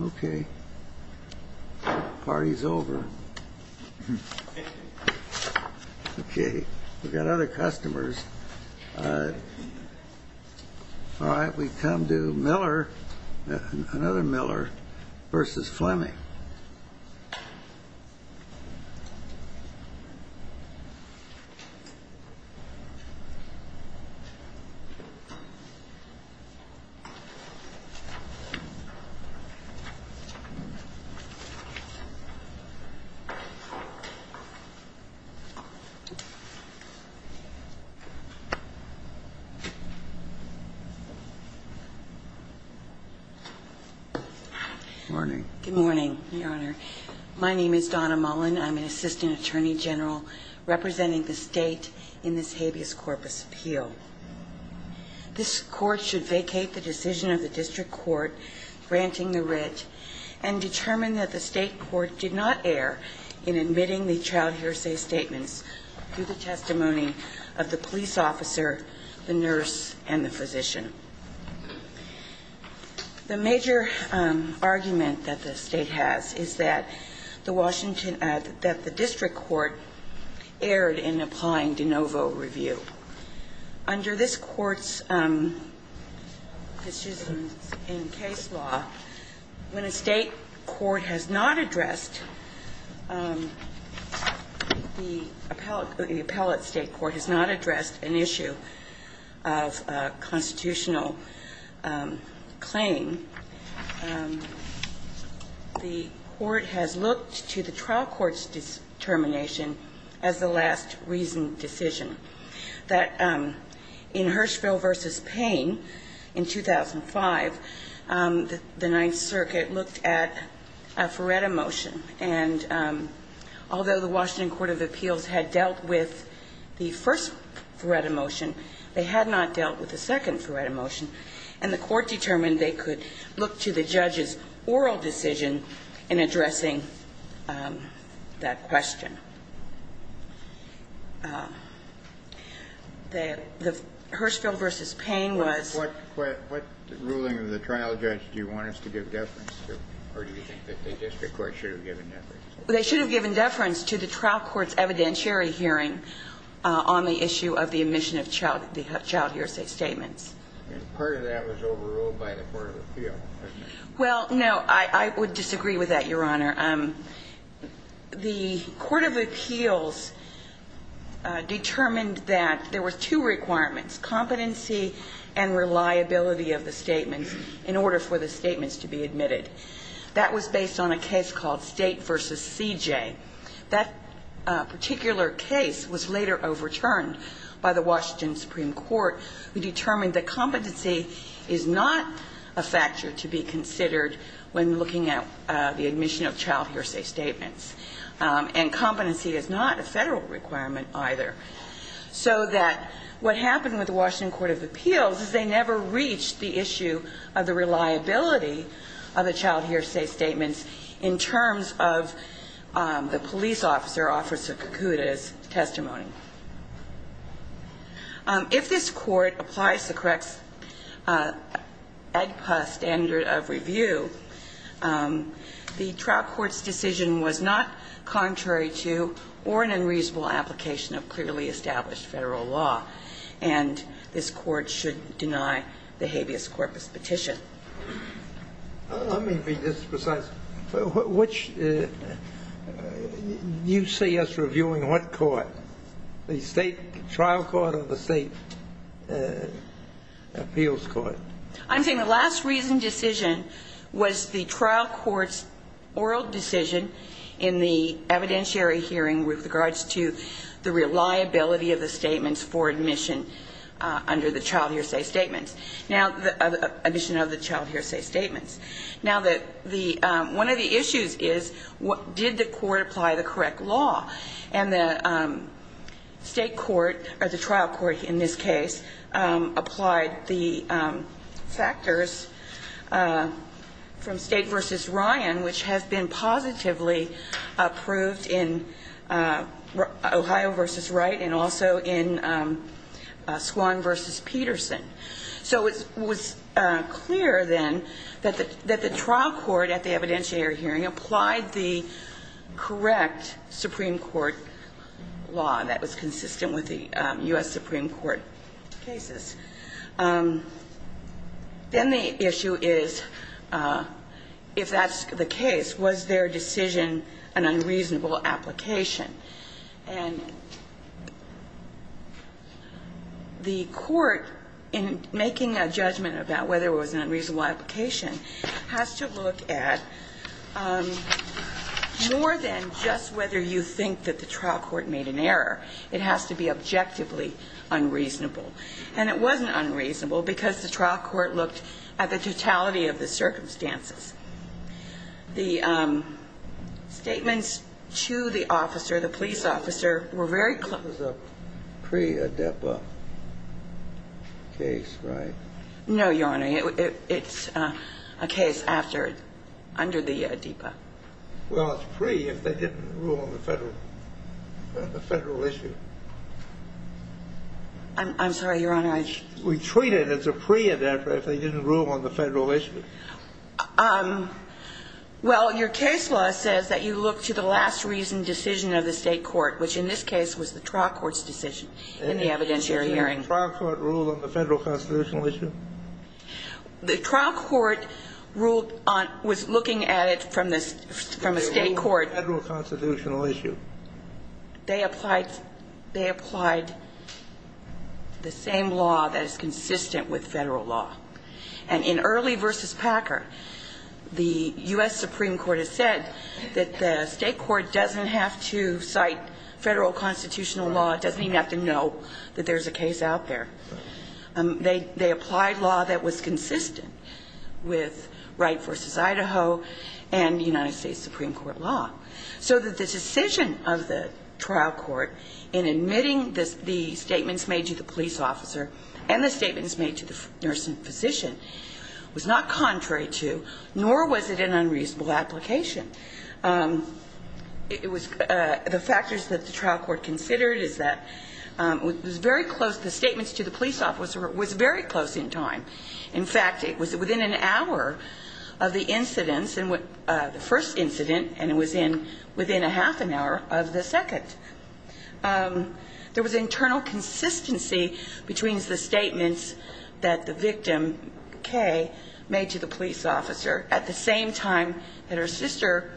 Okay. Party's over. Okay. We've got other customers. All right. We come to Miller. Another Miller v. Fleming. Morning. Good morning, Your Honor. My name is Donna Mullen. I'm an assistant attorney general representing the state in this habeas corpus appeal. This court should vacate the decision of the district court granting the writ and determine that the state court did not err in admitting the child hearsay statements to the testimony of the police officer, the nurse, and the physician. The major argument that the State has is that the Washington – that the district court erred in applying de novo review. Under this Court's decisions in case law, when a State court has not addressed – the appellate State court has not addressed an issue of constitutional claim, the court has looked to the trial court's determination as the last reasoned decision. That in Hirschfeld v. Payne in 2005, the Ninth Circuit looked at a Feretta motion. And although the Washington Court of Appeals had dealt with the first Feretta motion, they had not dealt with the second Feretta motion. And the Court determined they could look to the judge's oral decision in addressing that question. The Hirschfeld v. Payne was – What ruling of the trial judge do you want us to give deference to? Or do you think that the district court should have given deference? They should have given deference to the trial court's evidentiary hearing on the issue of the omission of child hearsay statements. And part of that was overruled by the Court of Appeals, wasn't it? Well, no. I would disagree with that, Your Honor. The Court of Appeals determined that there were two requirements, competency and reliability of the statements, in order for the statements to be admitted. That was based on a case called State v. CJ. That particular case was later overturned by the Washington Supreme Court, who determined that competency is not a factor to be considered when looking at the omission of child hearsay statements. And competency is not a Federal requirement either. So that what happened with the Washington Court of Appeals is they never reached the issue of the reliability of the child hearsay statements in terms of the police officer, Officer Kakuta's, testimony. If this Court applies the correct AGPAS standard of review, the trial court's decision was not contrary to or an unreasonable application of clearly established Federal law. And this Court should deny the habeas corpus petition. Let me be just precise. Which do you see us reviewing? What court? The state trial court or the state appeals court? I'm saying the last reason decision was the trial court's oral decision in the evidentiary hearing with regards to the reliability of the statements for admission under the child hearsay statements. Now, omission of the child hearsay statements. Now, one of the issues is did the court apply the correct law? And the state court, or the trial court in this case, applied the factors from State v. Ryan, which has been positively approved in Ohio v. Wright and also in Swan v. Peterson. So it was clear then that the trial court at the evidentiary hearing applied the correct Supreme Court law that was consistent with the U.S. Supreme Court cases. Then the issue is, if that's the case, was their decision an unreasonable application? And the court, in making a judgment about whether it was an unreasonable application, has to look at more than just whether you think that the trial court made an error. It has to be objectively unreasonable. And it wasn't unreasonable because the trial court looked at the totality of the circumstances. The statements to the officer, the police officer, were very clear. This was a pre-ADEPA case, right? No, Your Honor. It's a case after, under the ADEPA. Well, it's pre if they didn't rule on the federal issue. I'm sorry, Your Honor. We treat it as a pre-ADEPA if they didn't rule on the federal issue. Well, your case law says that you look to the last reasoned decision of the State court, which in this case was the trial court's decision in the evidentiary hearing. Did the trial court rule on the federal constitutional issue? The trial court was looking at it from a State court. Did they rule on the federal constitutional issue? They applied the same law that is consistent with federal law. And in Early v. Packer, the U.S. Supreme Court has said that the State court doesn't have to cite federal constitutional law. It doesn't even have to know that there's a case out there. They applied law that was consistent with Wright v. Idaho and the United States Supreme Court law. So that the decision of the trial court in admitting the statements made to the police officer and the statements made to the nurse and physician was not contrary to, nor was it an unreasonable application. It was the factors that the trial court considered is that it was very close. The statements to the police officer was very close in time. In fact, it was within an hour of the incident, the first incident, and it was within a half an hour of the second. There was internal consistency between the statements that the victim, Kay, made to the police officer at the same time that her sister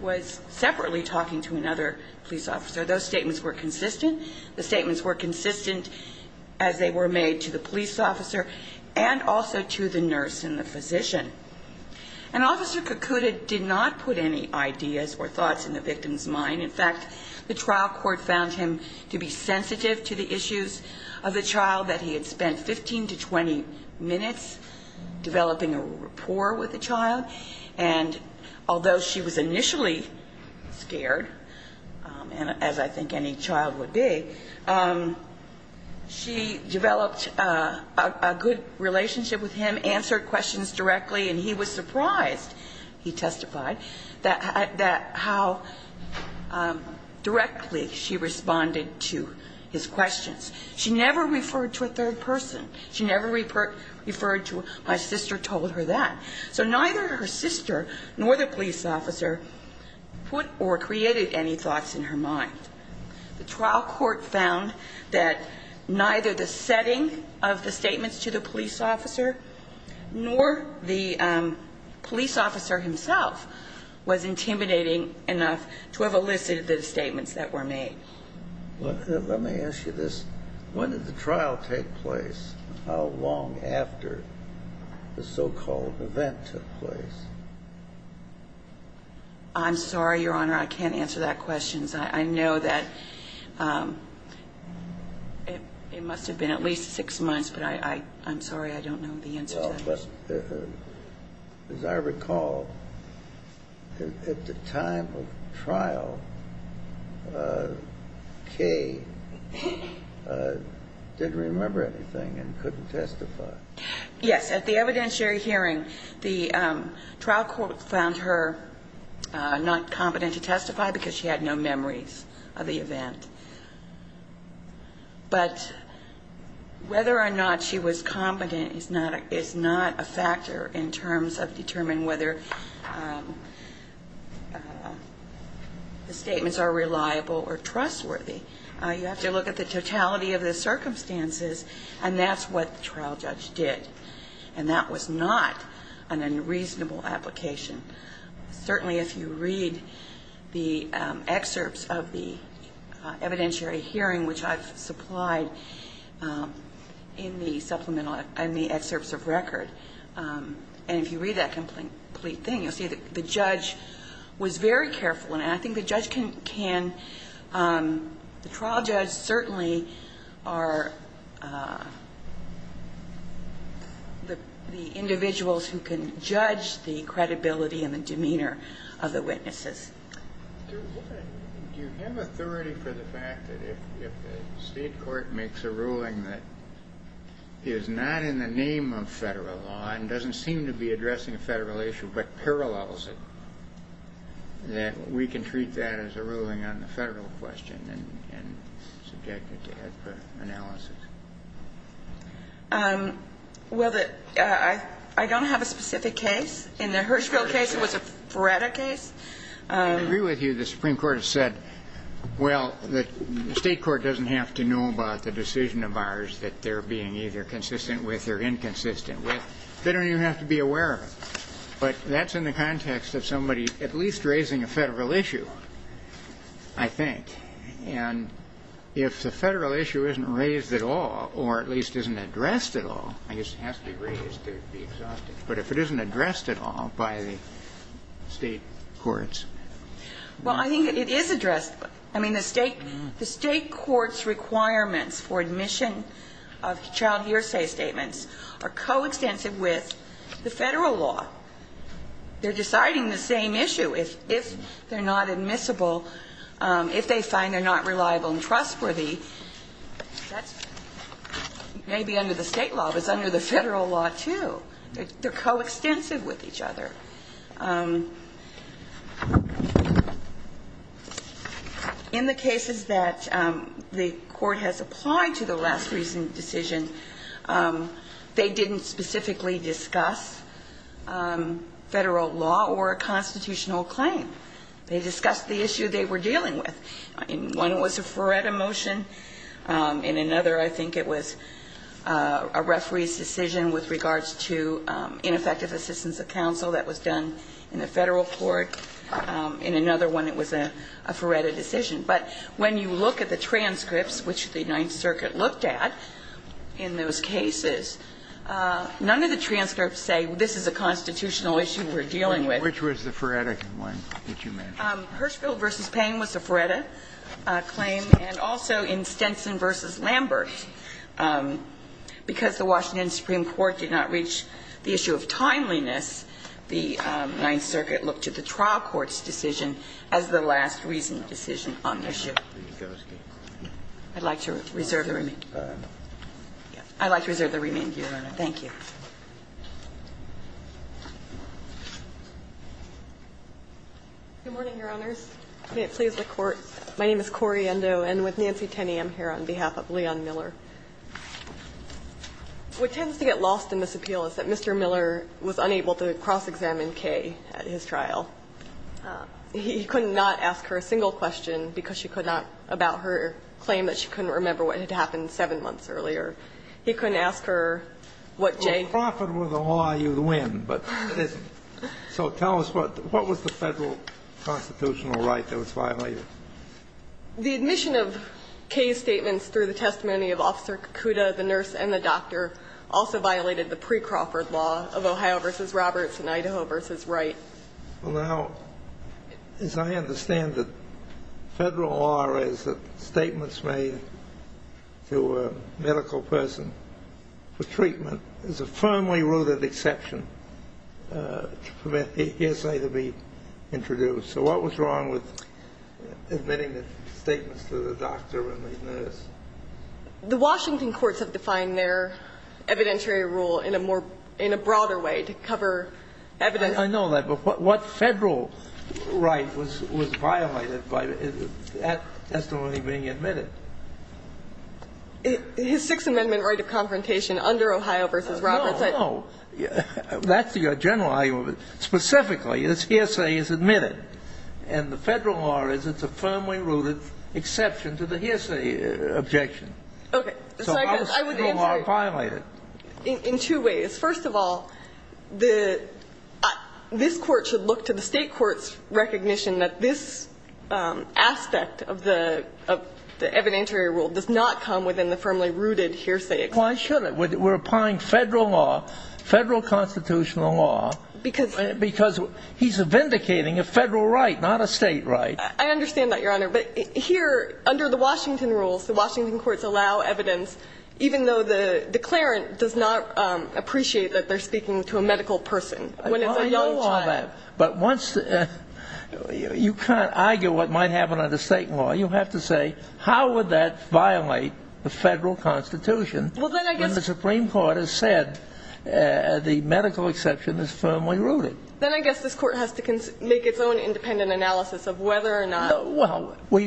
was separately talking to another police officer. Those statements were consistent. The statements were consistent as they were made to the police officer and also to the nurse and the physician. And Officer Kakuta did not put any ideas or thoughts in the victim's mind. In fact, the trial court found him to be sensitive to the issues of the child that he had spent 15 to 20 minutes developing a rapport with the child. And although she was initially scared, as I think any child would be, she developed a good relationship with him, answered questions directly, and he was surprised, he testified, that how directly she responded to his questions. She never referred to a third person. She never referred to my sister told her that. So neither her sister nor the police officer put or created any thoughts in her mind. The trial court found that neither the setting of the statements to the police officer nor the police officer himself was intimidating enough to have elicited the statements that were made. Let me ask you this. When did the trial take place? How long after the so-called event took place? I'm sorry, Your Honor, I can't answer that question. I know that it must have been at least six months, but I'm sorry, I don't know the answer to that question. As I recall, at the time of trial, Kaye didn't remember anything and couldn't testify. Yes, at the evidentiary hearing, the trial court found her not competent to testify because she had no memories of the event. But whether or not she was competent is not a factor in terms of determining whether the statements are reliable or trustworthy. You have to look at the totality of the circumstances, and that's what the trial judge did. And that was not an unreasonable application. Certainly, if you read the excerpts of the evidentiary hearing, which I've supplied in the supplemental and the excerpts of record, and if you read that complete thing, you'll see that the judge was very careful. And I think the trial judge certainly are the individuals who can judge the credibility and the demeanor of the witnesses. Do you have authority for the fact that if the state court makes a ruling that is not in the name of federal law and doesn't seem to be addressing a federal issue but parallels it, that we can treat that as a ruling on the federal question and subject it to head analysis? Well, I don't have a specific case. In the Hirschfield case, it was a FREDA case. I agree with you. The Supreme Court has said, well, the state court doesn't have to know about the decision of ours that they're being either consistent with or inconsistent with. They don't even have to be aware of it. But that's in the context of somebody at least raising a federal issue, I think. And if the federal issue isn't raised at all or at least isn't addressed at all, I guess it has to be raised to be exhausted, but if it isn't addressed at all by the state courts. Well, I think it is addressed. I mean, the state court's requirements for admission of child hearsay statements are coextensive with the federal law. They're deciding the same issue. If they're not admissible, if they find they're not reliable and trustworthy, that's maybe under the state law, but it's under the federal law too. They're coextensive with each other. In the cases that the Court has applied to the last recent decision, they didn't specifically discuss federal law or a constitutional claim. They discussed the issue they were dealing with. One was a Ferretta motion, and another I think it was a referee's decision with regards to ineffective assistance of counsel. That was done in the federal court. In another one, it was a Ferretta decision. But when you look at the transcripts, which the Ninth Circuit looked at in those cases, none of the transcripts say this is a constitutional issue we're dealing with. Kennedy, which was the Ferretta one that you mentioned? Hirschfeld v. Payne was the Ferretta claim, and also in Stenson v. Lambert, because the Washington Supreme Court did not reach the issue of timeliness, the Ninth Circuit looked to the trial court's decision as the last recent decision on the issue. I'd like to reserve the remainder. I'd like to reserve the remainder, Your Honor. Thank you. Corrie Endo. Good morning, Your Honors. May it please the Court. My name is Corrie Endo. I'm with Nancy Tenney. I'm here on behalf of Leon Miller. What tends to get lost in this appeal is that Mr. Miller was unable to cross-examine Kay at his trial. He could not ask her a single question because she could not about her claim that she couldn't remember what had happened seven months earlier. He couldn't ask her what Jay. If you profit with the law, you win, but it isn't. So tell us, what was the federal constitutional right that was violated? The admission of Kay's statements through the testimony of Officer Kakuda, the nurse and the doctor, also violated the pre-Crawford law of Ohio v. Roberts and Idaho v. Wright. Well, now, as I understand it, federal law is that statements made to a medical person for treatment is a firmly rooted exception to permit the hearsay to be introduced. So what was wrong with admitting the statements to the doctor and the nurse? The Washington courts have defined their evidentiary rule in a broader way to cover evidence. I know that, but what federal right was violated by that testimony being admitted? His Sixth Amendment right of confrontation under Ohio v. Roberts. No, no. That's the general argument. Specifically, this hearsay is admitted, and the federal law is it's a firmly rooted exception to the hearsay objection. Okay. So how is federal law violated? In two ways. First of all, this court should look to the state court's recognition that this aspect of the evidentiary rule does not come within the firmly rooted hearsay. Why should it? We're applying federal law, federal constitutional law. Because? Because he's vindicating a federal right, not a state right. I understand that, Your Honor. But here, under the Washington rules, the Washington courts allow evidence, even though the declarant does not appreciate that they're speaking to a medical person when it's a young child. I know all that. But once you kind of argue what might happen under state law, you have to say, how would that violate the federal constitution when the Supreme Court has said the medical exception is firmly rooted? Then I guess this Court has to make its own independent analysis of whether or not. Well, we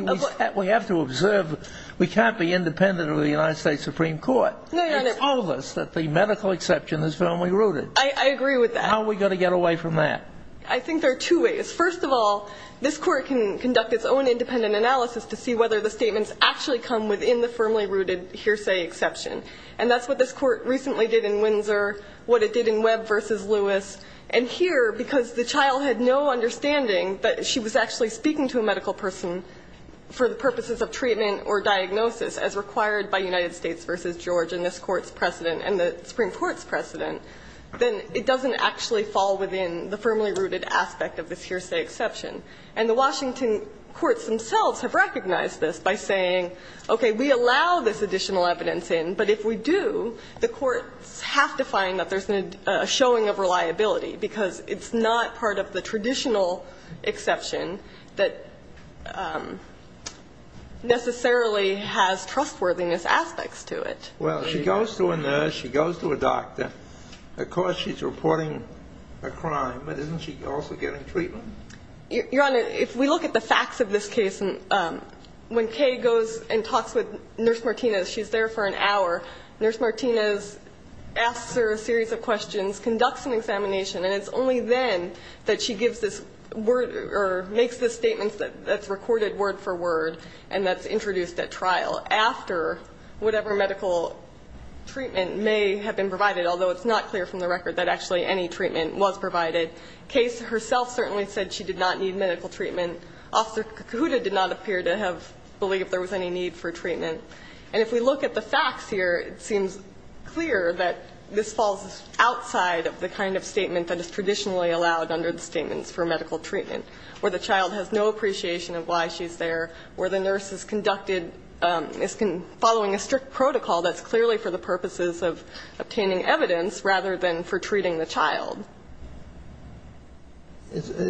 have to observe. We can't be independent of the United States Supreme Court. No, Your Honor. And told us that the medical exception is firmly rooted. I agree with that. How are we going to get away from that? I think there are two ways. First of all, this Court can conduct its own independent analysis to see whether the statements actually come within the firmly rooted hearsay exception. And that's what this Court recently did in Windsor, what it did in Webb v. Lewis. And here, because the child had no understanding that she was actually speaking to a medical person for the purposes of treatment or diagnosis as required by United States v. George and this Court's precedent and the Supreme Court's precedent, then it doesn't actually fall within the firmly rooted aspect of this hearsay exception. And the Washington courts themselves have recognized this by saying, okay, we allow this additional evidence in, but if we do, the courts have to find that there's a showing of reliability, because it's not part of the traditional exception that necessarily has trustworthiness aspects to it. Well, she goes to a nurse, she goes to a doctor. Of course, she's reporting a crime, but isn't she also getting treatment? Your Honor, if we look at the facts of this case, when Kay goes and talks with Nurse Martinez, she's there for an hour, Nurse Martinez asks her a series of questions, conducts an examination, and it's only then that she gives this word or makes this statement that's recorded word for word and that's introduced at trial after whatever medical treatment may have been provided, although it's not clear from the record that actually any treatment was provided. Kay herself certainly said she did not need medical treatment. Officer Cahuta did not appear to have believed there was any need for treatment. And if we look at the facts here, it seems clear that this falls outside of the kind of statement that is traditionally allowed under the statements for medical treatment, where the child has no appreciation of why she's there, where the nurse is conducted as following a strict protocol that's clearly for the purposes of obtaining evidence rather than for treating the child.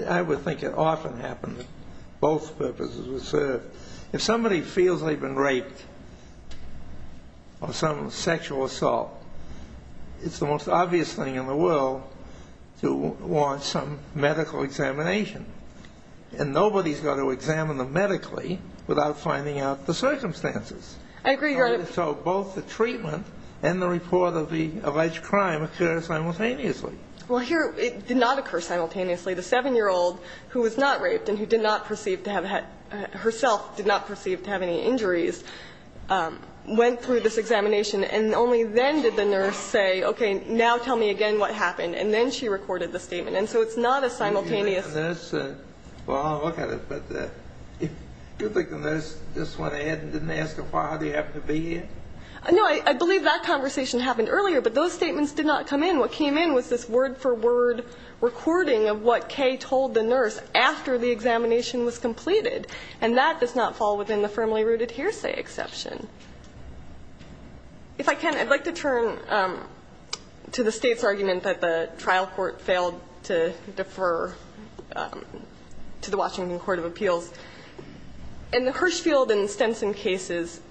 I would think it often happens that both purposes are served. If somebody feels they've been raped or some sexual assault, it's the most obvious thing in the world to launch some medical examination. And nobody's going to examine them medically without finding out the circumstances. I agree, Your Honor. So both the treatment and the report of the alleged crime occur simultaneously. Well, here it did not occur simultaneously. The 7-year-old who was not raped and who did not perceive to have had herself did not perceive to have any injuries went through this examination. And only then did the nurse say, okay, now tell me again what happened. And then she recorded the statement. And so it's not a simultaneous. Well, I'll look at it. But do you think the nurse just went ahead and didn't ask her why they happened to be here? No. I believe that conversation happened earlier. But those statements did not come in. What came in was this word-for-word recording of what Kay told the nurse after the examination was completed. And that does not fall within the firmly rooted hearsay exception. If I can, I'd like to turn to the State's argument that the trial court failed to defer to the Washington Court of Appeals. And the Hirshfield and Stenson cases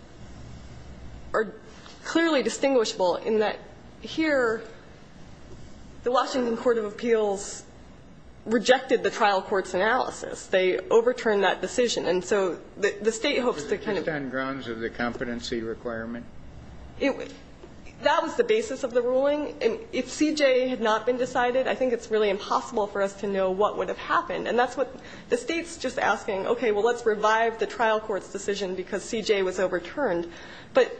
are clearly distinguishable in that here the Washington Court of Appeals rejected the trial court's analysis. They overturned that decision. And so the State hopes to kind of ---- Was it based on grounds of the competency requirement? That was the basis of the ruling. If CJ had not been decided, I think it's really impossible for us to know what would have happened. And that's what the State's just asking, okay, well, let's revive the trial court's decision because CJ was overturned. But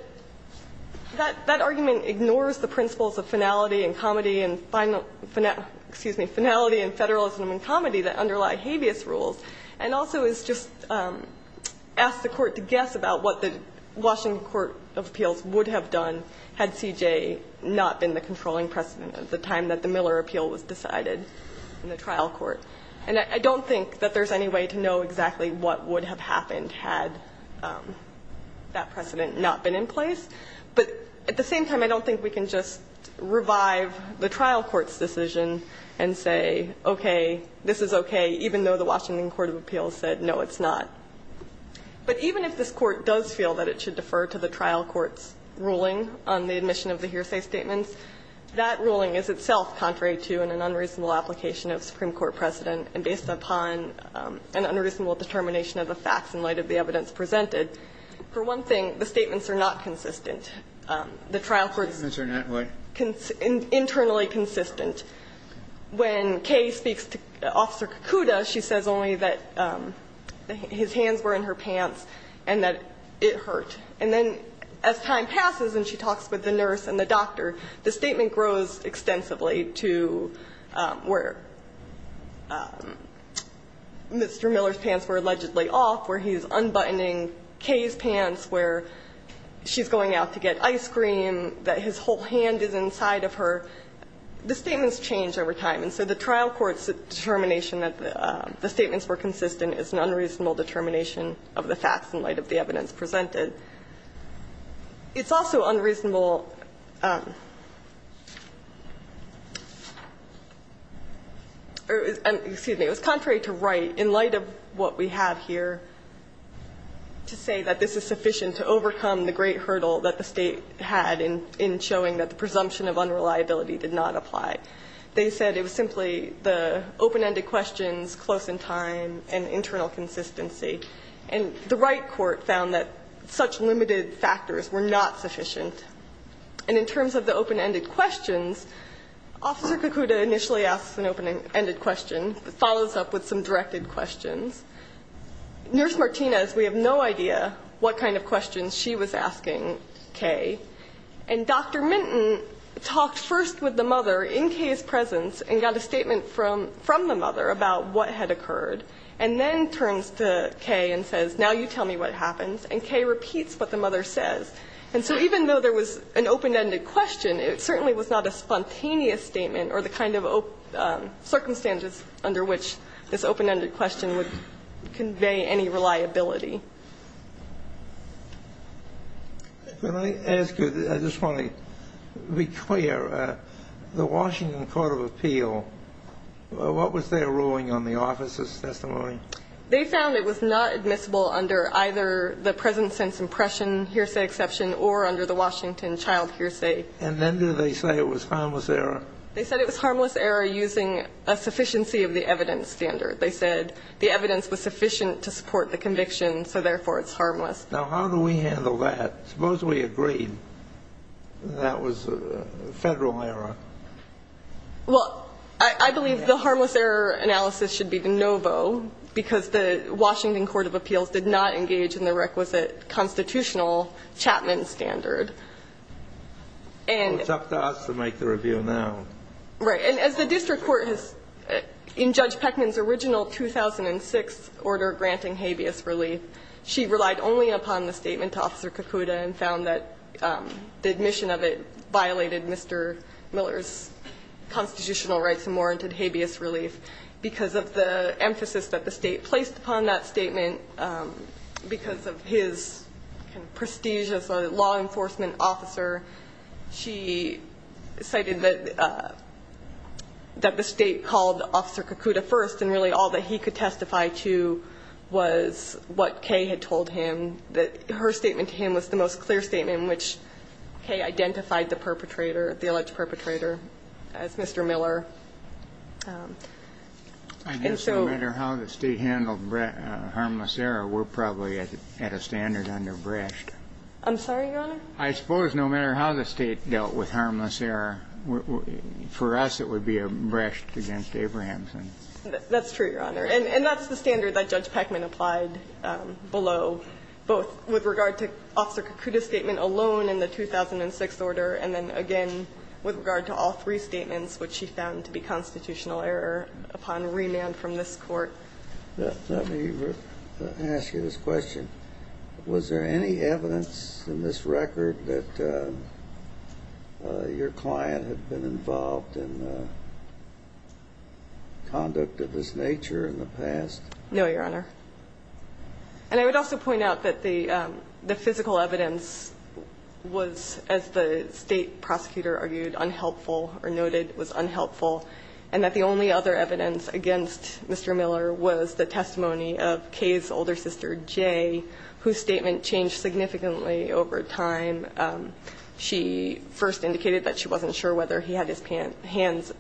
that argument ignores the principles of finality and comedy and final ---- excuse me, finality and federalism and comedy that underlie habeas rules and also is just ask the court to guess about what the Washington Court of Appeals would have done had CJ not been the controlling precedent at the time that the Miller appeal was decided in the trial court. And I don't think that there's any way to know exactly what would have happened had that precedent not been in place. But at the same time, I don't think we can just revive the trial court's decision and say, okay, this is okay, even though the Washington Court of Appeals said, no, it's not. But even if this court does feel that it should defer to the trial court's ruling on the admission of the hearsay statements, that ruling is itself contrary to and an unreasonable determination of the facts in light of the evidence presented, for one thing, the statements are not consistent. The trial court's ---- The statements are not what? Internally consistent. When Kay speaks to Officer Kakuda, she says only that his hands were in her pants and that it hurt. And then as time passes and she talks with the nurse and the doctor, the statement grows extensively to where Mr. Miller's pants were allegedly off, where he's unbuttoning Kay's pants, where she's going out to get ice cream, that his whole hand is inside of her. The statements change over time. And so the trial court's determination that the statements were consistent is an unreasonable determination of the facts in light of the evidence presented. It's also unreasonable ---- excuse me. It was contrary to right in light of what we have here to say that this is sufficient to overcome the great hurdle that the State had in showing that the presumption of unreliability did not apply. They said it was simply the open-ended questions, close in time, and internal consistency. And the right court found that such limited factors were not sufficient. And in terms of the open-ended questions, Officer Kakuda initially asks an open-ended question, follows up with some directed questions. Nurse Martinez, we have no idea what kind of questions she was asking Kay. And Dr. Minton talked first with the mother in Kay's presence and got a statement from the mother about what had occurred. And then turns to Kay and says, now you tell me what happens. And Kay repeats what the mother says. And so even though there was an open-ended question, it certainly was not a spontaneous statement or the kind of circumstances under which this open-ended question would convey any reliability. When I ask you, I just want to be clear. The Washington Court of Appeal, what was their ruling on the officers' testimony They found it was not admissible under either the present sense impression hearsay exception or under the Washington child hearsay. And then do they say it was harmless error? They said it was harmless error using a sufficiency of the evidence standard. They said the evidence was sufficient to support the conviction, so therefore it's harmless. Now, how do we handle that? Suppose we agreed that was Federal error. Well, I believe the harmless error analysis should be de novo because the Washington Court of Appeals did not engage in the requisite constitutional Chapman standard. It's up to us to make the review now. Right. And as the district court has, in Judge Peckman's original 2006 order granting habeas relief, she relied only upon the statement to Officer Kakuda and found that the admission of it violated Mr. Miller's constitutional rights and warranted habeas relief. Because of the emphasis that the state placed upon that statement, because of his prestige as a law enforcement officer, she cited that the state called Officer Kakuda first and really all that he could testify to was what Kay had told him, that her statement to him was the most clear statement in which Kay identified the perpetrator, the alleged perpetrator, as Mr. Miller. And so no matter how the state handled harmless error, we're probably at a standard under Brecht. I'm sorry, Your Honor? I suppose no matter how the state dealt with harmless error, for us it would be a Brecht against Abrahamson. That's true, Your Honor. And that's the standard that Judge Peckman applied below, both with regard to Officer Kakuda's statement alone in the 2006 order, and then again with regard to all three statements, which she found to be constitutional error upon remand from this Court. Let me ask you this question. Was there any evidence in this record that your client had been involved in conduct of this nature in the past? No, Your Honor. And I would also point out that the physical evidence was, as the state prosecutor argued, unhelpful or noted was unhelpful, and that the only other evidence against Mr. Miller was the testimony of Kay's older sister, Jay, whose statement changed significantly over time. She first indicated that she wasn't sure whether he had his hands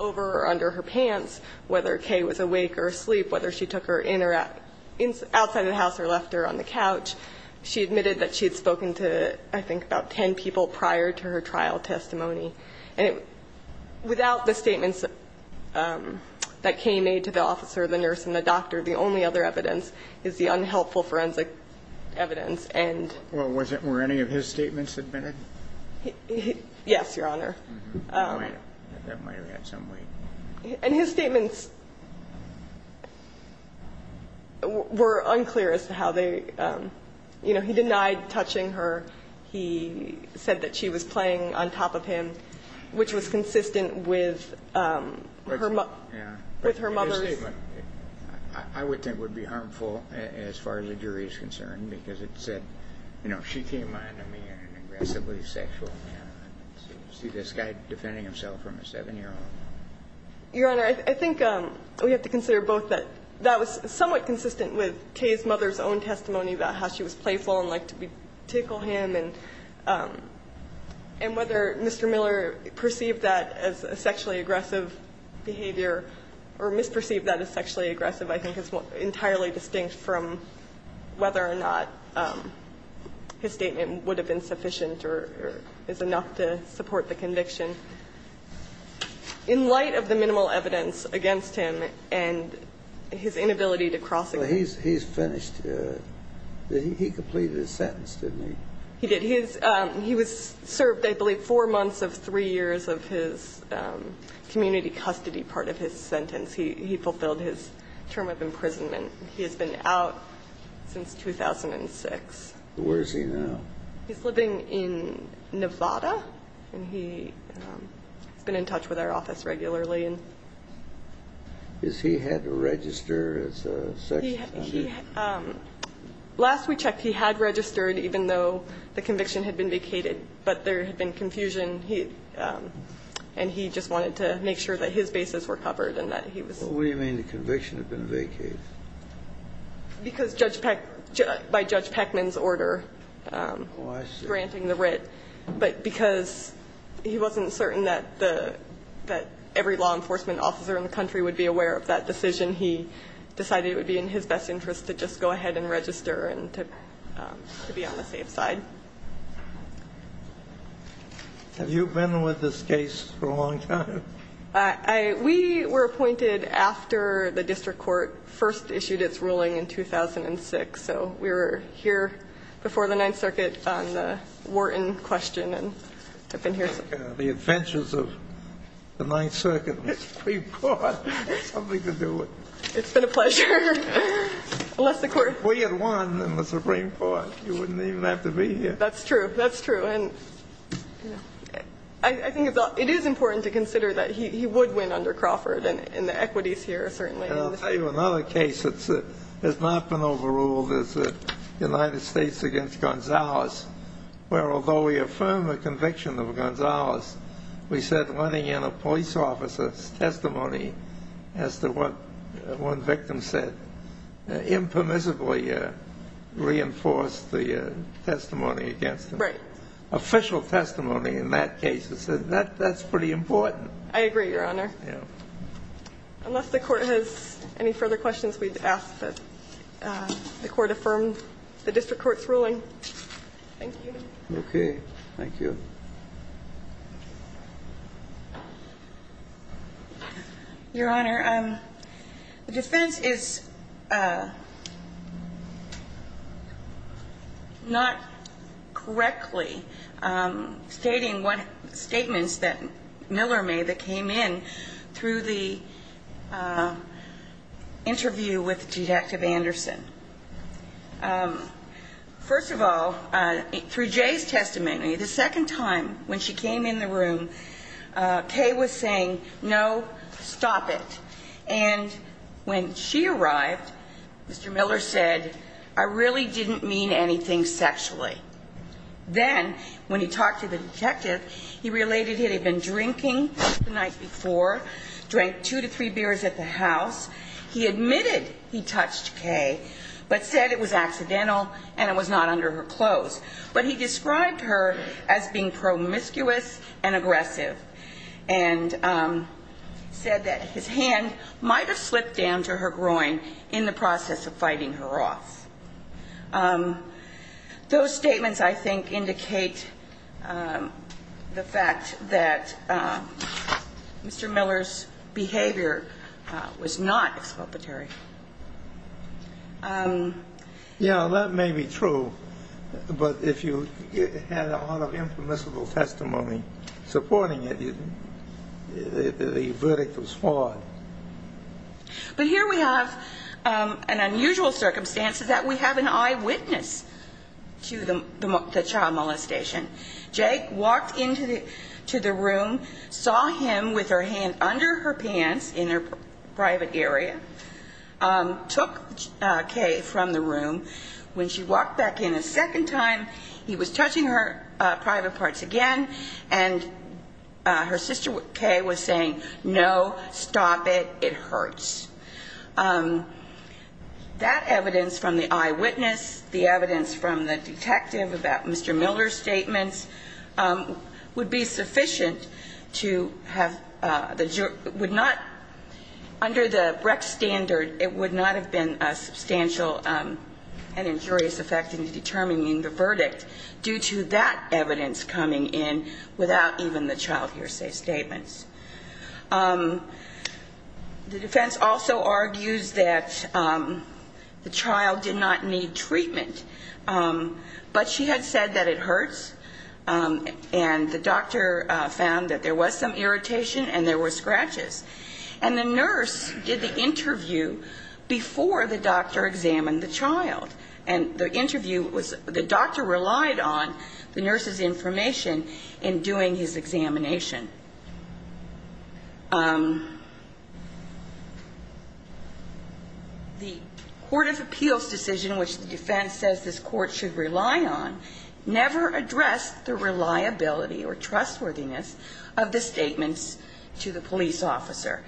over or under her bed, whether Kay was awake or asleep, whether she took her in or outside of the house or left her on the couch. She admitted that she had spoken to, I think, about ten people prior to her trial testimony. And without the statements that Kay made to the officer, the nurse, and the doctor, the only other evidence is the unhelpful forensic evidence. Well, were any of his statements admitted? Yes, Your Honor. That might have had some weight. And his statements were unclear as to how they, you know, he denied touching her. He said that she was playing on top of him, which was consistent with her mother's In his statement, I would think would be harmful as far as the jury is concerned because it said, you know, she came on to me as an aggressively sexual man. Do you see this guy defending himself from a 7-year-old? Your Honor, I think we have to consider both that that was somewhat consistent with Kay's mother's own testimony about how she was playful and liked to tickle him. And whether Mr. Miller perceived that as a sexually aggressive behavior or misperceived that as sexually aggressive, I think is entirely distinct from whether or not his conviction. In light of the minimal evidence against him and his inability to cross it. He's finished. He completed his sentence, didn't he? He did. He was served, I believe, four months of three years of his community custody part of his sentence. He fulfilled his term of imprisonment. He has been out since 2006. Where is he now? He's living in Nevada. And he's been in touch with our office regularly. Has he had to register as a sexual offender? Last we checked, he had registered even though the conviction had been vacated. But there had been confusion. And he just wanted to make sure that his bases were covered and that he was. What do you mean the conviction had been vacated? Because by Judge Peckman's order. Oh, I see. Granting the writ. But because he wasn't certain that every law enforcement officer in the country would be aware of that decision, he decided it would be in his best interest to just go ahead and register and to be on the safe side. Have you been with this case for a long time? We were appointed after the district court first issued its ruling in 2006. So we were here before the Ninth Circuit on the Wharton question. And I've been here since. The adventures of the Ninth Circuit and the Supreme Court have something to do with it. It's been a pleasure. We had won in the Supreme Court. You wouldn't even have to be here. That's true. That's true. I think it is important to consider that he would win under Crawford and the equities here certainly. I'll tell you another case that has not been overruled is the United States against Gonzalez, where although we affirm the conviction of Gonzalez, we said letting in a police officer's testimony as to what one victim said impermissibly reinforced the testimony against him. Right. Official testimony in that case. That's pretty important. I agree, Your Honor. Yeah. Unless the Court has any further questions, we'd ask that the Court affirm the district court's ruling. Thank you. Okay. Thank you. Your Honor, the defense is not correctly stating statements that Miller made that came in through the interview with Detective Anderson. First of all, through Jay's testimony, the second time when she came in the room, Kay was saying, no, stop it. And when she arrived, Mr. Miller said, I really didn't mean anything sexually. Then when he talked to the detective, he related he had been drinking the night before, drank two to three beers at the house. He admitted he touched Kay, but said it was accidental and it was not under her clothes. But he described her as being promiscuous and aggressive and said that his hand might have slipped down to her groin in the process of fighting her off. Those statements, I think, indicate the fact that Mr. Miller's behavior was not exculpatory. Yeah, that may be true. But if you had a lot of impermissible testimony supporting it, the verdict was flawed. But here we have an unusual circumstance is that we have an eyewitness to the child molestation. Jay walked into the room, saw him with her hand under her pants in her private area, took Kay from the room. When she walked back in a second time, he was touching her private parts again. And her sister Kay was saying, no, stop it. It hurts. That evidence from the eyewitness, the evidence from the detective about Mr. Miller's statements would be sufficient to have the jury would not. Under the rec standard, it would not have been a substantial and injurious effect in determining the verdict due to that evidence coming in without even the child hearsay statements. The defense also argues that the child did not need treatment, but she had said that it hurts. And the doctor found that there was some irritation and there were scratches. And the nurse did the interview before the doctor examined the child. And the interview was the doctor relied on the nurse's information in doing his examination. The Court of Appeals decision, which the defense says this court should rely on, never addressed the reliability or trustworthiness of the statements to the police officer.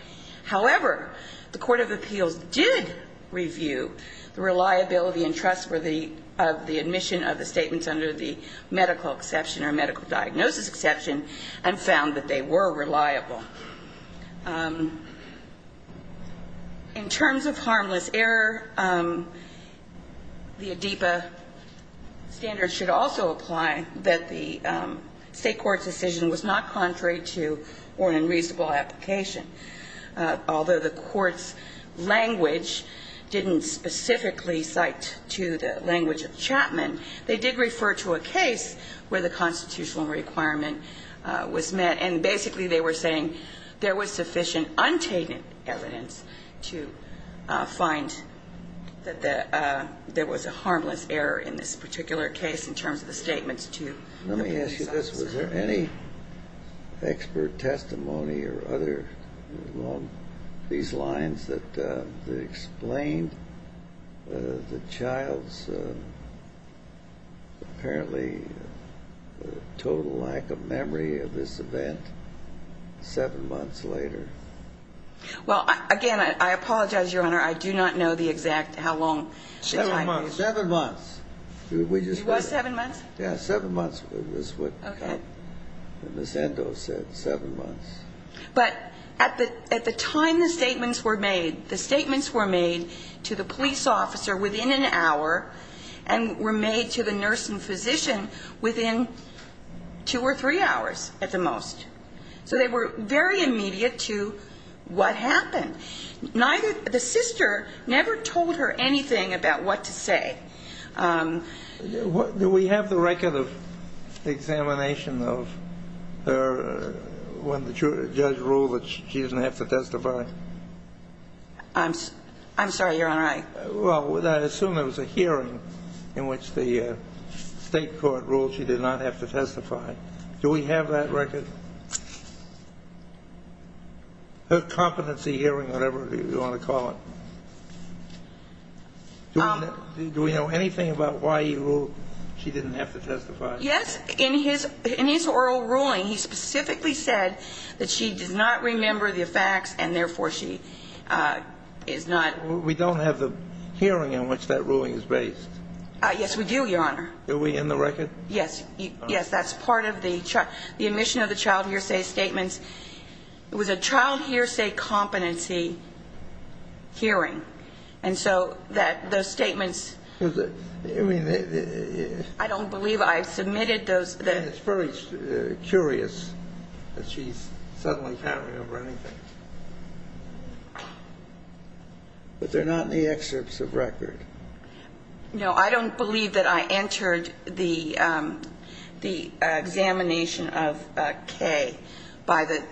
However, the Court of Appeals did review the reliability and trustworthiness of the admission of the statements under the medical exception or medical diagnosis exception and found the statements to be reliable. In terms of harmless error, the ADEPA standard should also apply that the state court's decision was not contrary to or unreasonable application. Although the court's language didn't specifically cite to the language of Chapman, they did refer to a case where the constitutional requirement was met. And basically they were saying there was sufficient untainted evidence to find that there was a harmless error in this particular case in terms of the statements to the police officer. Let me ask you this, was there any expert testimony or other along these lines that explained the child's apparently total lack of memory of this event? Well, again, I apologize, Your Honor, I do not know the exact, how long the time was. Seven months. It was seven months? Yeah, seven months was what Ms. Endo said, seven months. But at the time the statements were made, the statements were made to the police officer within an hour and were made to the nurse and physician within two or three hours at the most. So they were very immediate to what happened. Neither, the sister never told her anything about what to say. Do we have the record of examination of her when the judge ruled that she didn't have to testify? I'm sorry, Your Honor, I... Well, I assume there was a hearing in which the state court ruled she did not have to testify. Do we have that record? Her competency hearing, whatever you want to call it. Do we know anything about why he ruled she didn't have to testify? Yes, in his oral ruling he specifically said that she did not remember the facts and therefore she is not... We don't have the hearing in which that ruling is based. Yes, we do, Your Honor. Are we in the record? Yes, that's part of the admission of the child hearsay statements. It was a child hearsay competency hearing. And so those statements... I don't believe I submitted those. It's very curious that she suddenly can't remember anything. But they're not in the excerpts of record. No, I don't believe that I entered the examination of Kay by the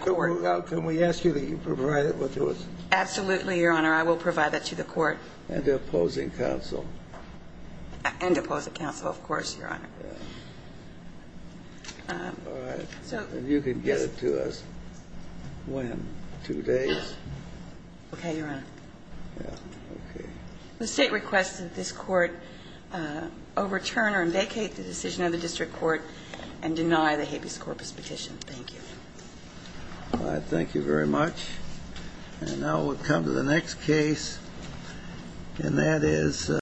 court. Can we ask you to provide it to us? Absolutely, Your Honor. I will provide that to the court. And to opposing counsel. And to opposing counsel, of course, Your Honor. All right. And you can get it to us when? Two days? Okay, Your Honor. Okay. The State requests that this Court overturn or vacate the decision of the District Court and deny the habeas corpus petition. Thank you. All right. Thank you very much. And now we'll come to the next case. And that is...